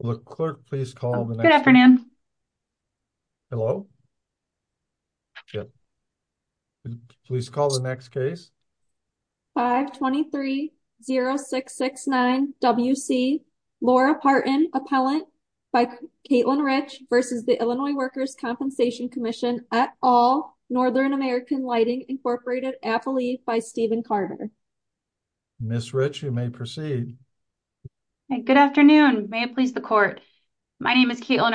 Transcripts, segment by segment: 523-0669 W.C. Laura Partin, Appellant by Caitlin Rich v. Illinois Workers' Compensation Commission, et al., Northern American Lighting, Inc., Affiliated by Stephen Carter. My name is Caitlin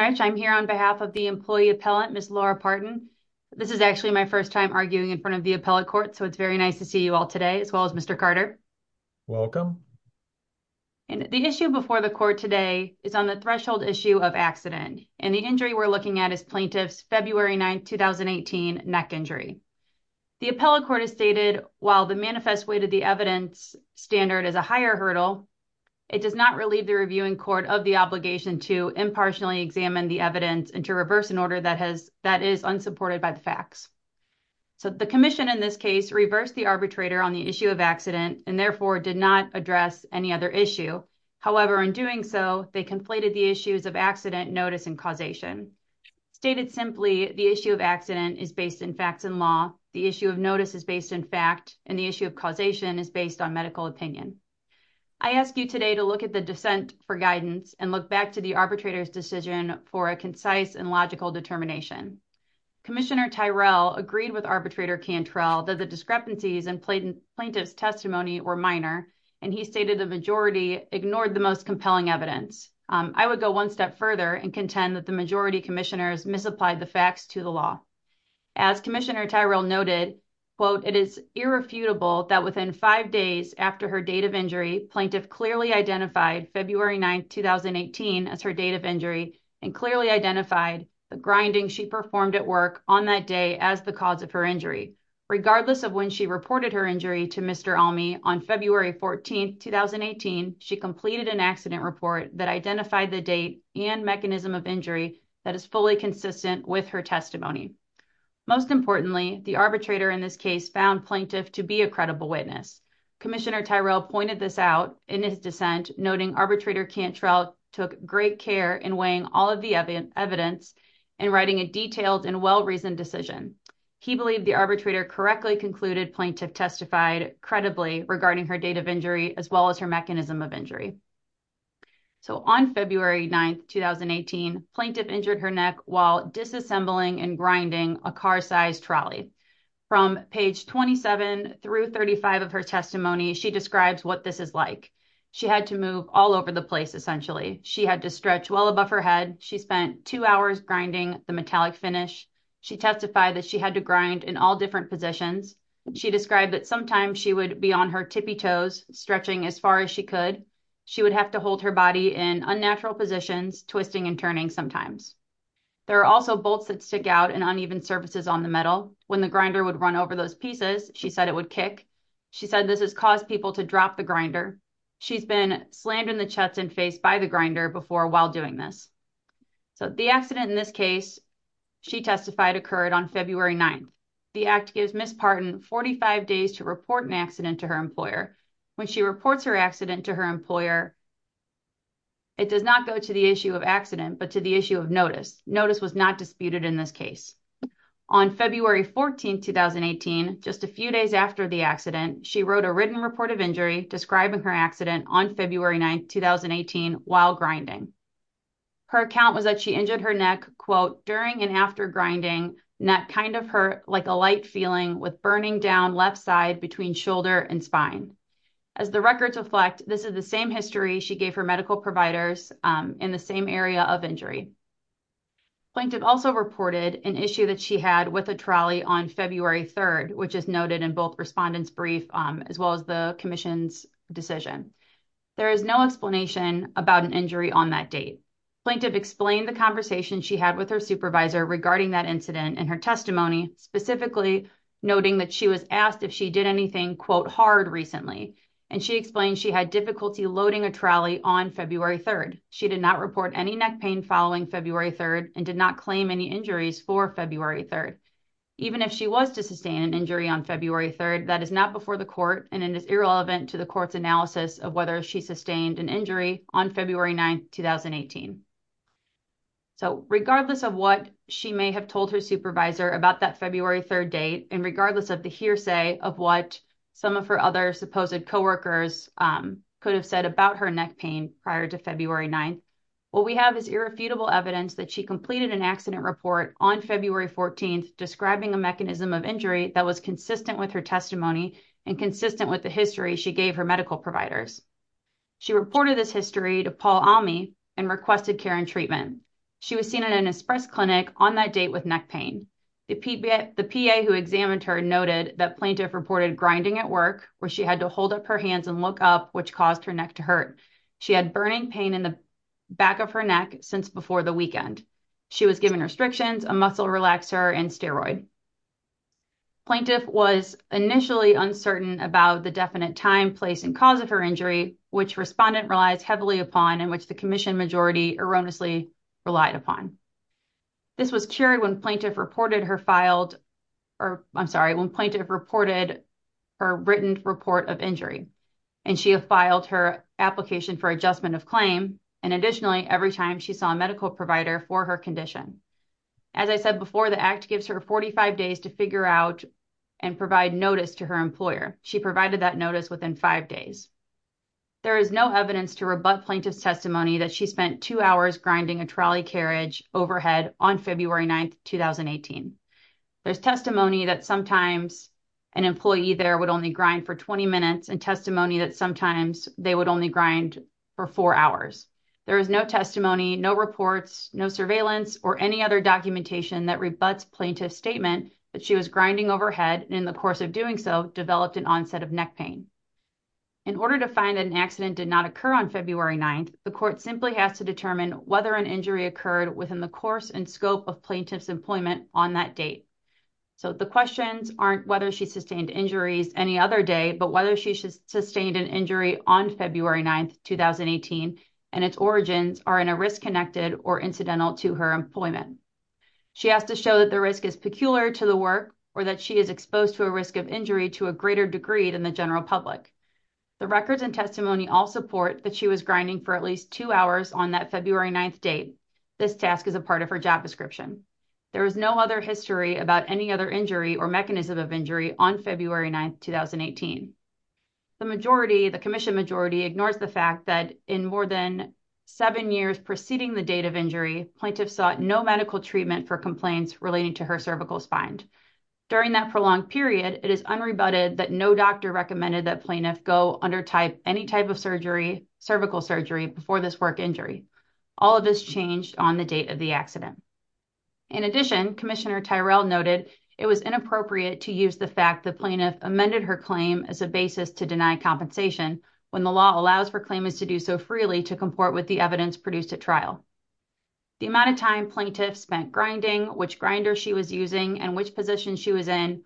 Rich. I'm here on behalf of the employee appellant, Ms. Laura Partin. This is actually my first time arguing in front of the appellate court, so it's very nice to see you all today, as well as Mr. Carter. Welcome. And the issue before the court today is on the threshold issue of accident, and the injury we're looking at is plaintiff's February 9, 2018, neck injury. The appellate court has stated, while the manifest weight of the evidence standard is a hurdle, it does not relieve the reviewing court of the obligation to impartially examine the evidence and to reverse an order that is unsupported by the facts. So, the commission, in this case, reversed the arbitrator on the issue of accident and, therefore, did not address any other issue. However, in doing so, they conflated the issues of accident, notice, and causation. Stated simply, the issue of accident is based in facts and law, the issue of notice is based in I ask you today to look at the dissent for guidance and look back to the arbitrator's decision for a concise and logical determination. Commissioner Tyrell agreed with arbitrator Cantrell that the discrepancies in plaintiff's testimony were minor, and he stated the majority ignored the most compelling evidence. I would go one step further and contend that the majority commissioners misapplied the facts to the law. As Commissioner Tyrell noted, quote, it is irrefutable that within five days after her date of injury, plaintiff clearly identified February 9, 2018, as her date of injury and clearly identified the grinding she performed at work on that day as the cause of her injury. Regardless of when she reported her injury to Mr. Almey, on February 14, 2018, she completed an accident report that identified the date and mechanism of injury that is fully consistent with her testimony. Most importantly, the plaintiff to be a credible witness. Commissioner Tyrell pointed this out in his dissent, noting arbitrator Cantrell took great care in weighing all of the evidence and writing a detailed and well-reasoned decision. He believed the arbitrator correctly concluded plaintiff testified credibly regarding her date of injury as well as her mechanism of injury. So, on February 9, 2018, plaintiff injured her neck while disassembling and grinding a car-sized trolley. From page 27 through 35 of her testimony, she describes what this is like. She had to move all over the place, essentially. She had to stretch well above her head. She spent two hours grinding the metallic finish. She testified that she had to grind in all different positions. She described that sometimes she would be on her tippy toes, stretching as far as she could. She would have to hold her body in unnatural positions, twisting and turning sometimes. There are also bolts that stick out and uneven surfaces on the metal. When the grinder would run over those pieces, she said it would kick. She said this has caused people to drop the grinder. She's been slammed in the chest and face by the grinder before while doing this. So, the accident in this case she testified occurred on February 9th. The act gives Ms. Parton 45 days to report an accident to her employer. When she reports her accident to her notice, notice was not disputed in this case. On February 14th, 2018, just a few days after the accident, she wrote a written report of injury describing her accident on February 9th, 2018, while grinding. Her account was that she injured her neck, quote, during and after grinding, neck kind of hurt like a light feeling with burning down left side between shoulder and spine. As the records reflect, this is the same history she gave her medical providers in the same area of injury. Plaintiff also reported an issue that she had with a trolley on February 3rd, which is noted in both respondent's brief as well as the commission's decision. There is no explanation about an injury on that date. Plaintiff explained the conversation she had with her supervisor regarding that incident in her testimony, specifically noting that she was asked if she did anything, quote, hard recently, and she explained she had difficulty loading a trolley on February 3rd. She did not report any neck pain following February 3rd and did not claim any injuries for February 3rd. Even if she was to sustain an injury on February 3rd, that is not before the court, and it is irrelevant to the court's analysis of whether she sustained an injury on February 9th, 2018. So regardless of what she may have told her supervisor about that February 3rd date, and regardless of the hearsay of what some of her other supposed co-workers could have said about her neck pain prior to February 9th, what we have is irrefutable evidence that she completed an accident report on February 14th describing a mechanism of injury that was consistent with her testimony and consistent with the history she gave her medical providers. She reported this history to Paul Almey and requested care and treatment. She was seen in an express clinic on that date with neck pain. The PA who examined her noted that plaintiff reported grinding at work where she had to hold up her hands and look up, which caused her neck to hurt. She had burning pain in the back of her neck since before the weekend. She was given restrictions, a muscle relaxer, and steroid. Plaintiff was initially uncertain about the definite time, place, and cause of her injury, which respondent relies heavily upon and which the commission majority erroneously relied upon. This was cured when plaintiff reported her filed, or I'm sorry, when plaintiff reported her written report of injury, and she had filed her application for adjustment of claim, and additionally, every time she saw a medical provider for her condition. As I said before, the act gives her 45 days to figure out and provide notice to her employer. She provided that notice within five days. There is no evidence to rebut plaintiff's testimony that she spent two hours grinding a trolley carriage overhead on February 9th, 2018. There's testimony that sometimes an employee there would only grind for 20 minutes and testimony that sometimes they would only grind for four hours. There is no testimony, no reports, no surveillance, or any other documentation that rebuts plaintiff's statement that she was grinding overhead, and in the course of doing so, developed an onset of neck pain. In order to find an accident did not occur on February 9th, the court simply has to determine whether an injury occurred within the course and scope of plaintiff's employment on that date. So, the questions aren't whether she sustained injuries any other day, but whether she sustained an injury on February 9th, 2018, and its origins are in a risk connected or incidental to her employment. She has to show that the risk is peculiar to the work or that she is exposed to a risk of injury to a greater degree than the general public. The records and testimony all support that she was grinding for at least two hours on that February 9th date. This task is a part of her job description. There is no other history about any other injury or mechanism of injury on February 9th, 2018. The majority, the commission majority ignores the fact that in more than seven years preceding the date of injury, plaintiff sought no medical treatment for complaints relating to her cervical spine. During that prolonged period, it is unrebutted that no doctor recommended that plaintiff go under any type of cervical surgery before this work injury. All of this changed on the date of the accident. In addition, Commissioner Tyrell noted it was inappropriate to use the fact that plaintiff amended her claim as a basis to deny compensation when the law allows for claimants to do so freely to comport with the evidence produced at trial. The amount of time plaintiff spent grinding, which grinder she was using, and which position she was in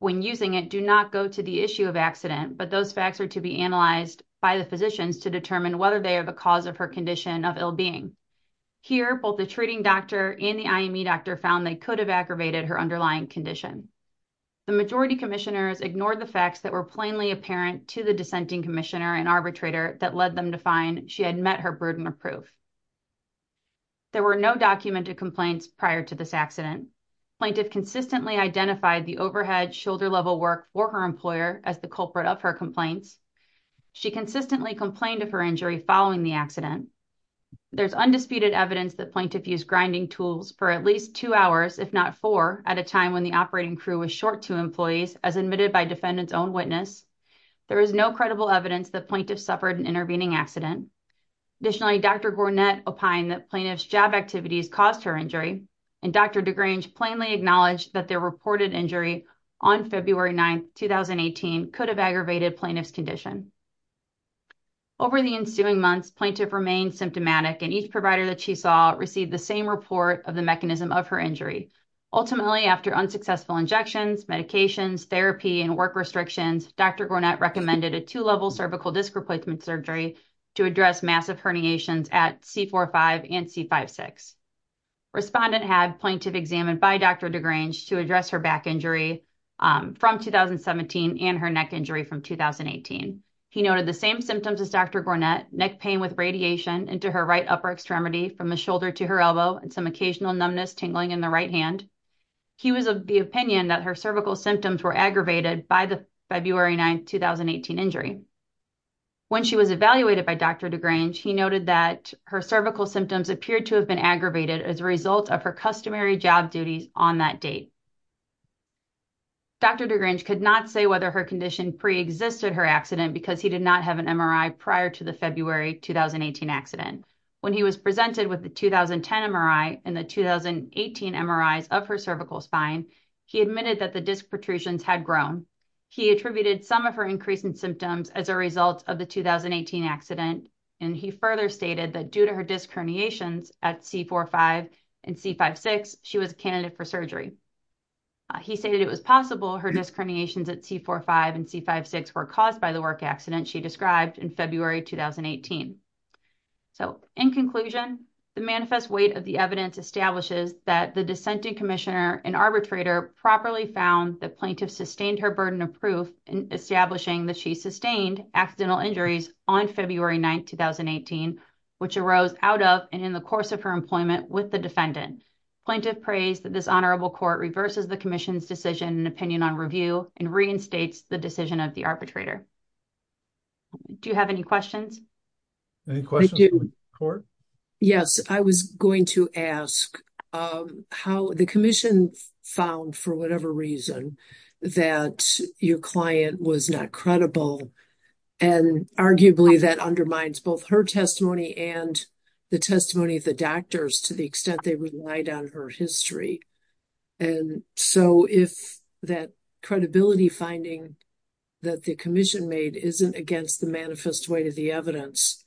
when using it do not go to the issue of accident, but those facts are to be analyzed by the physicians to determine whether they are the cause of her condition of ill being. Here, both the treating doctor and the IME doctor found they could have aggravated her underlying condition. The majority commissioners ignored the facts that were plainly apparent to the dissenting commissioner and arbitrator that led them to find she had met her prudent proof. There were no documented complaints prior to this accident. Plaintiff consistently identified the overhead shoulder-level work for her employer as the culprit of her complaints. She consistently complained of her injury following the accident. There's undisputed evidence that plaintiff used grinding tools for at least two hours, if not four, at a time when the operating crew was short two employees, as admitted by defendant's own witness. There is no credible evidence that plaintiff suffered an intervening accident. Additionally, Dr. Gornett opined that plaintiff's job activities caused her injury, and Dr. DeGrange plainly acknowledged that their reported injury on February 9, 2018, could have aggravated plaintiff's condition. Over the ensuing months, plaintiff remained symptomatic, and each provider that she saw received the same report of the mechanism of her injury. Ultimately, after unsuccessful injections, medications, therapy, and work restrictions, Dr. Gornett recommended a two-level cervical disc replacement surgery to address massive herniations at C4-5 and C5-6. Respondent had plaintiff examined by Dr. DeGrange to address her back injury from 2017 and her neck injury from 2018. He noted the same symptoms as Dr. Gornett, neck pain with radiation into her right upper extremity from the shoulder to her elbow, and some occasional numbness tingling in the right hand. He was of the opinion that her cervical symptoms were aggravated by the February 9, 2018 injury. When she was evaluated by Dr. DeGrange, he noted that her cervical symptoms appeared to have been aggravated as a result of her customary job duties on that date. Dr. DeGrange could not say whether her condition pre-existed her accident because he did not have an MRI prior to the February 2018 accident. When he was presented with the 2010 MRI and the 2018 MRIs of her cervical spine, he admitted that the disc protrusions had grown. He attributed some of her increasing symptoms as a result of the 2018 accident, and he further stated that due to her disc herniations at C4-5 and C5-6, she was a candidate for surgery. He stated it was possible her disc herniations at C4-5 and C5-6 were caused by the work accident she described in February, 2018. So, in conclusion, the manifest weight of the evidence establishes that the dissenting commissioner and arbitrator properly found that plaintiff sustained her burden of proof in establishing that she sustained accidental injuries on February 9, 2018, which arose out of and in the course of her employment with the defendant. Plaintiff praised that this honorable court reverses the commission's decision and opinion on review and reinstates the decision of the arbitrator. Do you have any questions? Any questions from the court? Yes, I was going to ask how the commission found, for whatever reason, that your client was not credible, and arguably that undermines both her testimony and the testimony of the doctors to the extent they relied on her history. And so, if that credibility finding that the commission made isn't against the manifest weight of the evidence,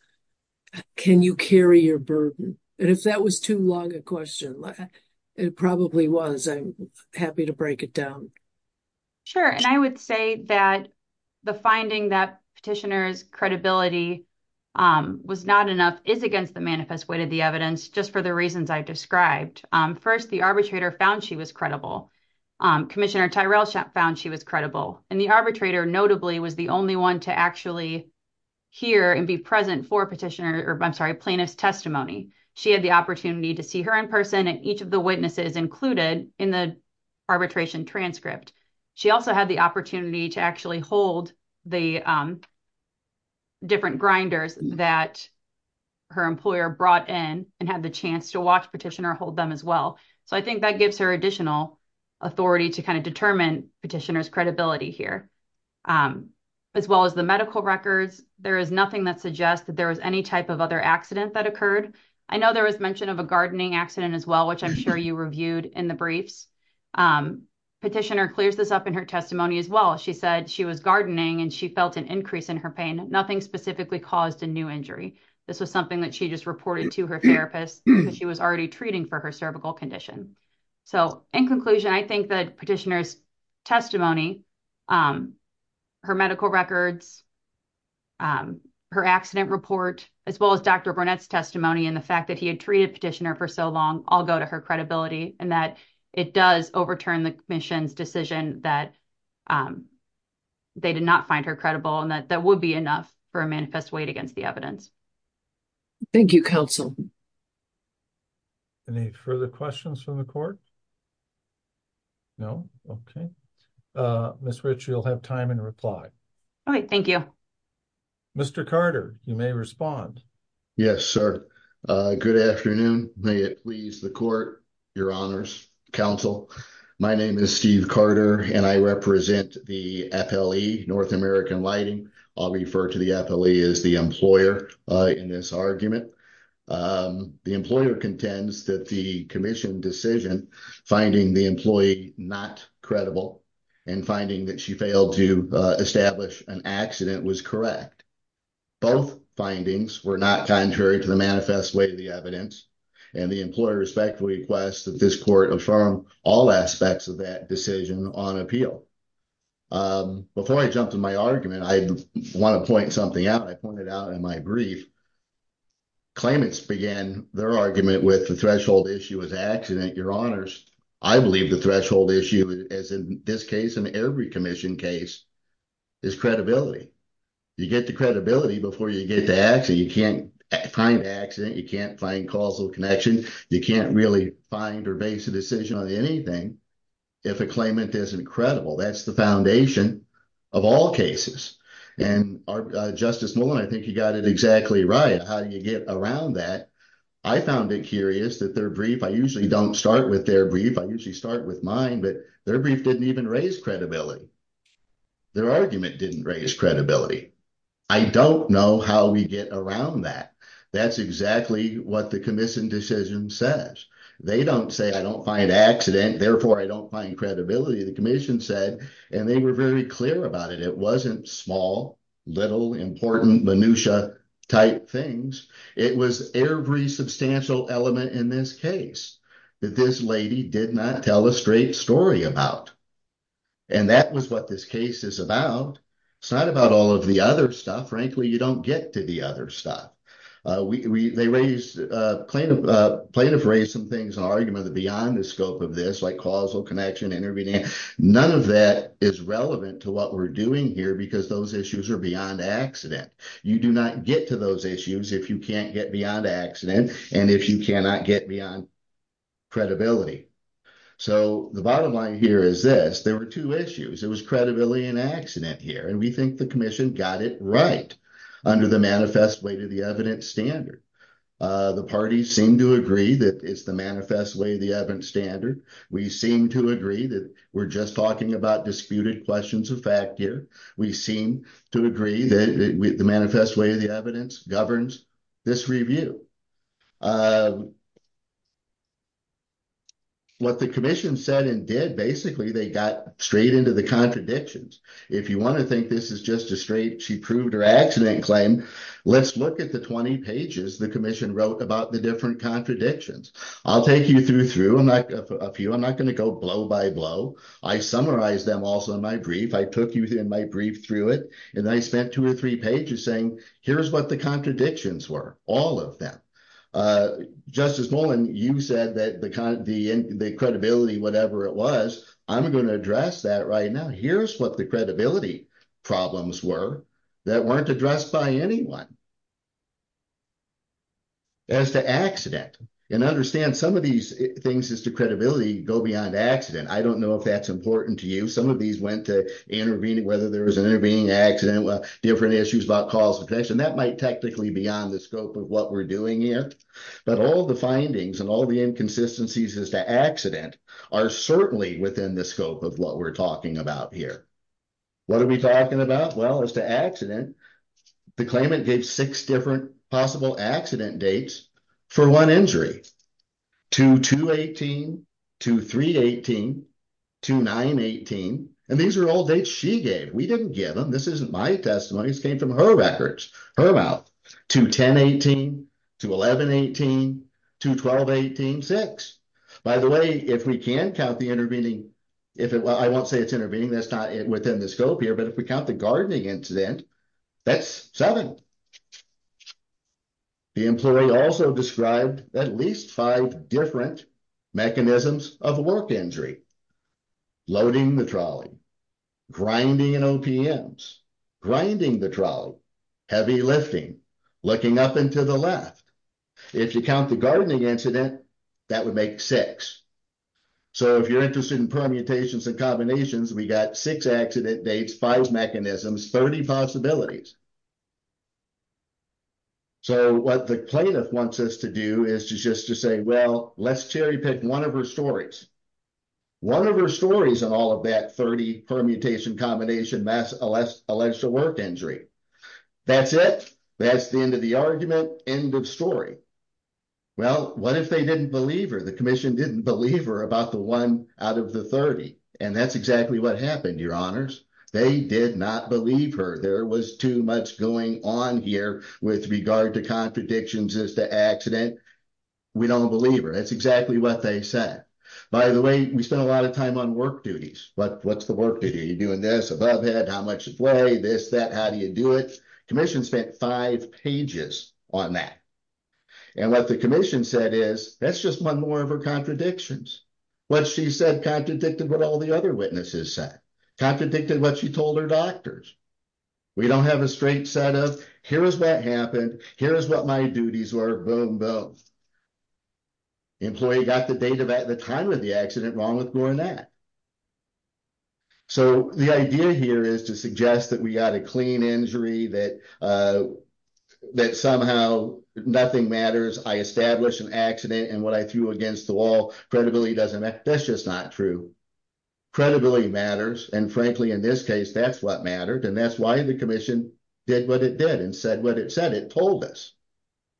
can you carry your burden? And if that was too long a question, it probably was. I'm happy to break it down. Sure, and I would say that the finding that petitioner's credibility was not enough is against the manifest weight of the First, the arbitrator found she was credible. Commissioner Tyrell found she was credible, and the arbitrator notably was the only one to actually hear and be present for petitioner, I'm sorry, plaintiff's testimony. She had the opportunity to see her in person and each of the witnesses included in the arbitration transcript. She also had the opportunity to actually hold the different grinders that her employer brought in and had the chance to watch petitioner hold them as well. So I think that gives her additional authority to kind of determine petitioner's credibility here. As well as the medical records, there is nothing that suggests that there was any type of other accident that occurred. I know there was mention of a gardening accident as well, which I'm sure you reviewed in the briefs. Petitioner clears this up in her testimony as well. She said she was gardening and she felt an increase in her pain, nothing specifically caused a new injury. This was something that she just reported to her therapist because she was already treating for her cervical condition. So in conclusion, I think that petitioner's testimony, her medical records, her accident report, as well as Dr. Burnett's testimony and the fact that he had treated petitioner for so long all go to her credibility and that it does overturn the commission's decision that they did not find her credible and that that would be enough for a manifest weight against the evidence. Thank you, counsel. Any further questions from the court? No? Okay. Ms. Rich, you'll have time and reply. All right. Thank you. Mr. Carter, you may respond. Yes, sir. Good afternoon. May it please the court, your honors, counsel. My name is Steve Carter and I represent the FLE, North American Lighting. I'll refer to the FLE as the employer in this argument. The employer contends that the commission decision finding the employee not credible and finding that she failed to establish an accident was correct. Both findings were not contrary to the manifest weight of the evidence and the employer respectfully requests that this court affirm all aspects of that decision on appeal. Before I jump to my argument, I want to point something out. I pointed out in my brief claimants began their argument with the threshold issue as accident. Your honors, I believe the threshold issue as in this case and every commission case is credibility. You get the connection. You can't really find or base a decision on anything if a claimant isn't credible. That's the foundation of all cases. Justice Nolan, I think you got it exactly right. How do you get around that? I found it curious that their brief, I usually don't start with their brief. I usually start with mine, but their brief didn't even raise credibility. Their argument didn't raise credibility. I don't know how we get around that. That's exactly what the commission decision says. They don't say I don't find accident, therefore I don't find credibility. The commission said, and they were very clear about it. It wasn't small, little important minutia type things. It was every substantial element in this case that this lady did not tell a straight story about. That was what this case is about. It's the other stuff. They raised, plaintiff raised some things beyond the scope of this, like causal connection, intervening. None of that is relevant to what we're doing here because those issues are beyond accident. You do not get to those issues if you can't get beyond accident and if you cannot get beyond credibility. The bottom line here is this. There were two issues. It was credibility and accident here. We think the commission got it right under the manifest way to the evidence standard. The parties seem to agree that it's the manifest way of the evidence standard. We seem to agree that we're just talking about disputed questions of fact here. We seem to agree that the manifest way of the evidence governs this review. What the commission said and did, basically, they got straight into the contradictions. If you want to think this is just a straight, she proved her accident claim, let's look at the 20 pages the commission wrote about the different contradictions. I'll take you through a few. I'm not going to go blow by blow. I summarized them also in my brief. I took you through my brief through it and I spent two or three pages saying here's what the contradictions were, all of them. Justice Nolan, you said the credibility, whatever it was, I'm going to address that right now. Here's what the credibility problems were that weren't addressed by anyone. As to accident, and understand some of these things as to credibility go beyond accident. I don't know if that's important to you. Some of these went to intervening, whether there was an intervening accident, different issues about cause and effect. That might technically be on the scope of what we're doing here. But all the findings and all the inconsistencies as to accident are certainly within the scope of what we're talking about here. What are we talking about? As to accident, the claimant gave six possible accident dates for one injury. 2-2-18, 2-3-18, 2-9-18, and these are all dates she gave. We didn't give them. This isn't my testimony. This came from her records, her mouth. 2-10-18, 2-11-18, 2-12-18-6. By the way, if we can count the intervening, I won't say it's intervening, within the scope here, but if we count the gardening incident, that's seven. The employee also described at least five different mechanisms of work injury. Loading the trolley, grinding in OPMs, grinding the trolley, heavy lifting, looking up and to the left. If you count the gardening incident, that would make six. So, if you're interested in permutations and combinations, we got six accident dates, five mechanisms, 30 possibilities. So, what the plaintiff wants us to do is just to say, well, let's cherry pick one of her stories. One of her stories in all of that 30 permutation combination mass alleged to work injury. That's it. That's the end of the argument, end of story. Well, what if they didn't believe her? The commission didn't believe her about the one out of the 30, and that's exactly what happened, your honors. They did not believe her. There was too much going on here with regard to contradictions as to accident. We don't believe her. That's exactly what they said. By the way, we spent a lot of time on work duties. What's the work duty? Are you doing this, above head, how much to weigh, this, that, how do you do it? Commission spent five pages on that, and what the commission said is, that's just one more of her contradictions. What she said contradicted what all the other witnesses said, contradicted what she told her doctors. We don't have a straight set of, here is what happened, here is what my duties were, boom, boom. Employee got the date of at the time of the accident wrong that. The idea here is to suggest that we got a clean injury, that somehow nothing matters. I established an accident, and what I threw against the wall, credibility doesn't matter. That's just not true. Credibility matters, and frankly, in this case, that's what mattered, and that's why the commission did what it did, and said what it said. It told us,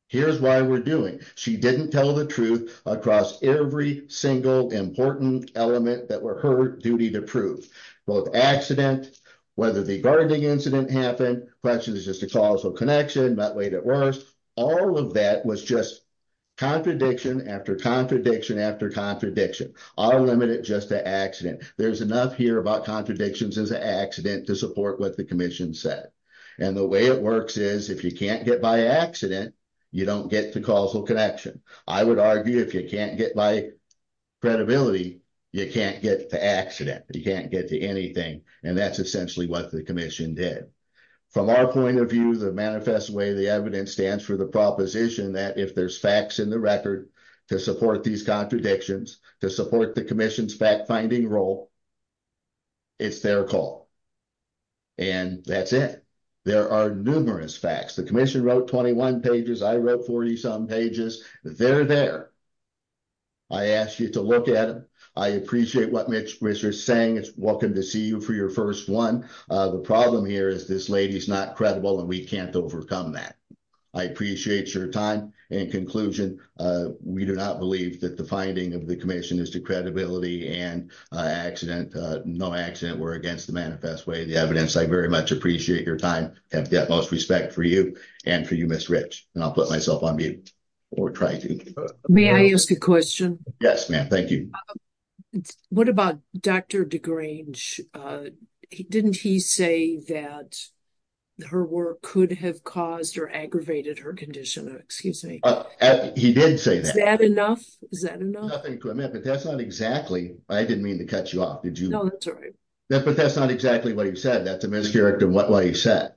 here's why we're doing. She didn't tell the truth across every single important element that were her duty to prove, both accident, whether the gardening incident happened, question is just a causal connection, not made it worse. All of that was just contradiction, after contradiction, after contradiction. I'll limit it just to accident. There's enough here about contradictions as an accident to support what the commission said, and the way it works is, if you can't get by accident, you don't get to causal connection. I would argue, if you can't get by credibility, you can't get to accident. You can't get to anything, and that's essentially what the commission did. From our point of view, the manifest way, the evidence stands for the proposition that if there's facts in the record to support these contradictions, to support the commission's fact-finding role, it's their call, and that's it. There are numerous facts. The commission wrote 21 pages. I read 40 some pages. They're there. I asked you to look at them. I appreciate what Mitch was saying. It's welcome to see you for your first one. The problem here is this lady's not credible, and we can't overcome that. I appreciate your time. In conclusion, we do not believe that the finding of the no accident were against the manifest way. The evidence, I very much appreciate your time. I have the utmost respect for you and for you, Ms. Rich, and I'll put myself on mute or try to. May I ask a question? Yes, ma'am. Thank you. What about Dr. DeGrange? Didn't he say that her work could have caused or aggravated her condition? Excuse me. He did say that. Is that enough? Is that enough? But that's not exactly. I didn't mean to cut you off. No, that's all right. But that's not exactly what he said. That's a mischaracter of what he said.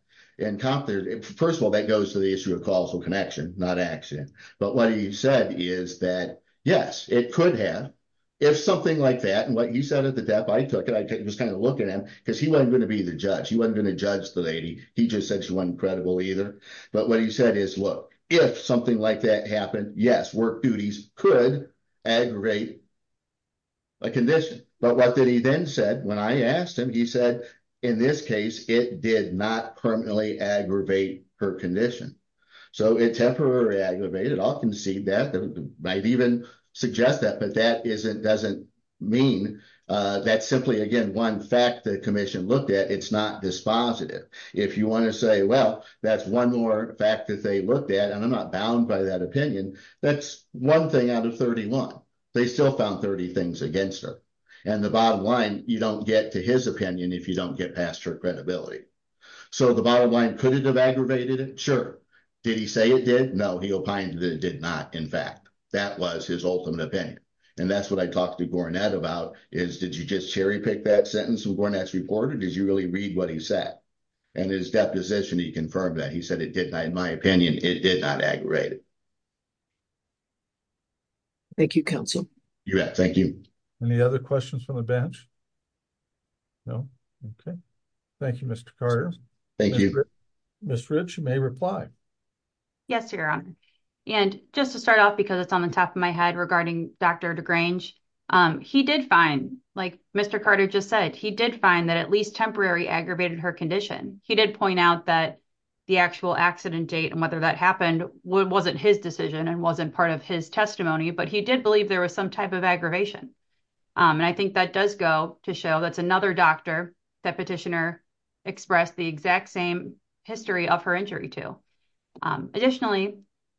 First of all, that goes to the issue of causal connection, not action. But what he said is that, yes, it could have. If something like that, and what he said at the depth, I took it. I just kind of looked at him because he wasn't going to be the judge. He wasn't going to judge the lady. He just said she wasn't credible either. But what he said is, look, if something like that happened, yes, work duties could aggravate a condition. But what did he then said when I asked him? He said, in this case, it did not permanently aggravate her condition. So it temporarily aggravated. I'll concede that. I might even suggest that. But that doesn't mean that's simply, again, one fact the commission looked at. It's not dispositive. If you want to say, well, that's one more fact that they looked at, and I'm not bound by that opinion, that's one thing out of 31. They still found 30 things against her. And the bottom line, you don't get to his opinion if you don't get past her credibility. So the bottom line, could it have aggravated it? Sure. Did he say it did? No, he opined that it did not, in fact. That was his ultimate opinion. And that's what I talked to Gornett about, is did you just cherry pick that sentence when Gornett's reported? Did you really read what he said? And his deposition, he confirmed that. He said it did not, in my opinion, it did not aggravate it. Thank you, counsel. You bet. Thank you. Any other questions from the bench? No? Okay. Thank you, Mr. Carter. Thank you. Ms. Rich, you may reply. Yes, Your Honor. And just to start off, because it's on the top of my head regarding Dr. DeGrange, he did find, like Mr. Carter just said, he did find that at least temporary aggravated her condition. He did point out that the actual accident date and whether that happened wasn't his decision and wasn't part of his testimony, but he did believe there was some type of aggravation. And I think that does go to show that's another doctor that petitioner expressed the exact same history of her injury to. Additionally,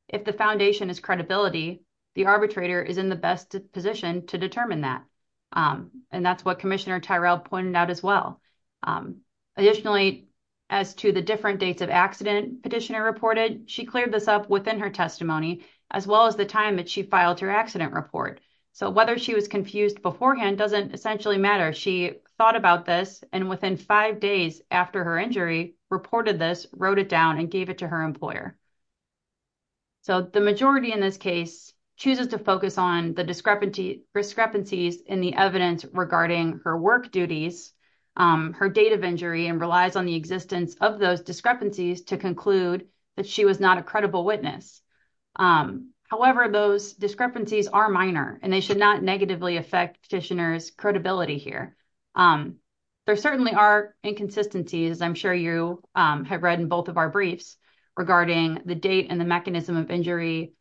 if the foundation is credibility, the arbitrator is in the best position to determine that. And that's what Commissioner Tyrell pointed out as well. Additionally, as to the different dates of accident petitioner reported, she cleared this up within her testimony, as well as the time that she filed her accident report. So, whether she was confused beforehand doesn't essentially matter. She thought about this and within five days after her injury, reported this, wrote it down and gave it to her employer. So, the majority in this case chooses to focus on the discrepancies in the evidence regarding her work duties, her date of injury and relies on the existence of those discrepancies to conclude that she was not a credible witness. However, those discrepancies are minor and they should not negatively affect petitioner's credibility here. There certainly are inconsistencies, I'm sure you have read in both of our briefs regarding the date and the mechanism of injury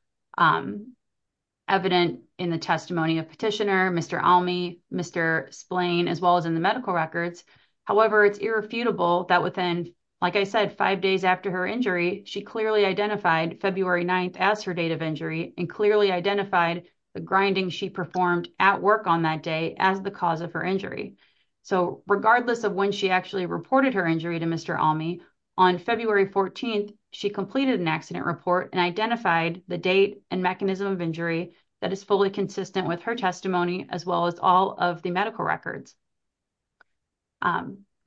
evident in the testimony of petitioner, Mr. Almy, Mr. Splane, as well as in the medical records. However, it's irrefutable that within, like I said, five days after her injury, she clearly identified February 9th as her date of injury and clearly identified the grinding she performed at work on that day as the cause of her injury. So, regardless of when she actually reported her injury to Mr. Almy, on February 14th, she completed an accident report and identified the date and mechanism of injury that is fully consistent with her testimony as well as all of the medical records.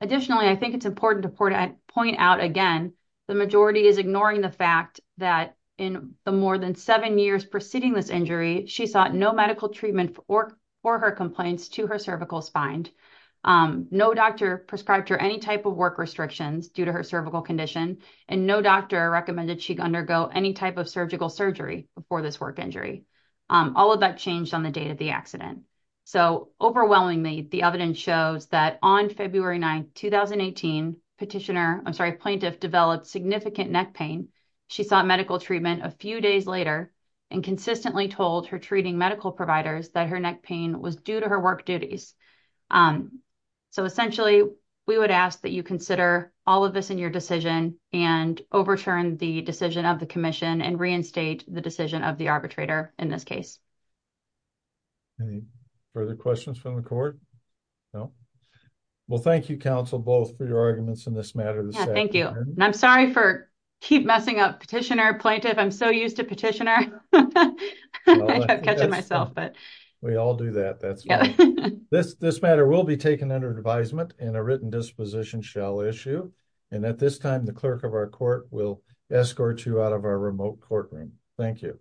Additionally, I think it's important to point out again, the majority is ignoring the fact that in the more than seven years preceding this injury, she sought no medical treatment for her complaints to her cervical spine. No doctor prescribed her any type of work restrictions due to her cervical condition and no doctor recommended she undergo any type surgical surgery before this work injury. All of that changed on the date of the accident. So, overwhelmingly, the evidence shows that on February 9th, 2018, petitioner, I'm sorry, plaintiff developed significant neck pain. She sought medical treatment a few days later and consistently told her treating medical providers that her neck pain was due to her work duties. So, essentially, we would ask that you consider all of this in your decision and overturn the decision of the arbitrator in this case. Any further questions from the court? No? Well, thank you, counsel, both for your arguments in this matter. Thank you. And I'm sorry for keep messing up petitioner, plaintiff. I'm so used to petitioner. I kept catching myself. We all do that. This matter will be taken under advisement and a written disposition shall issue. And at this time, the clerk of our court will escort you out of our remote courtroom. Thank you.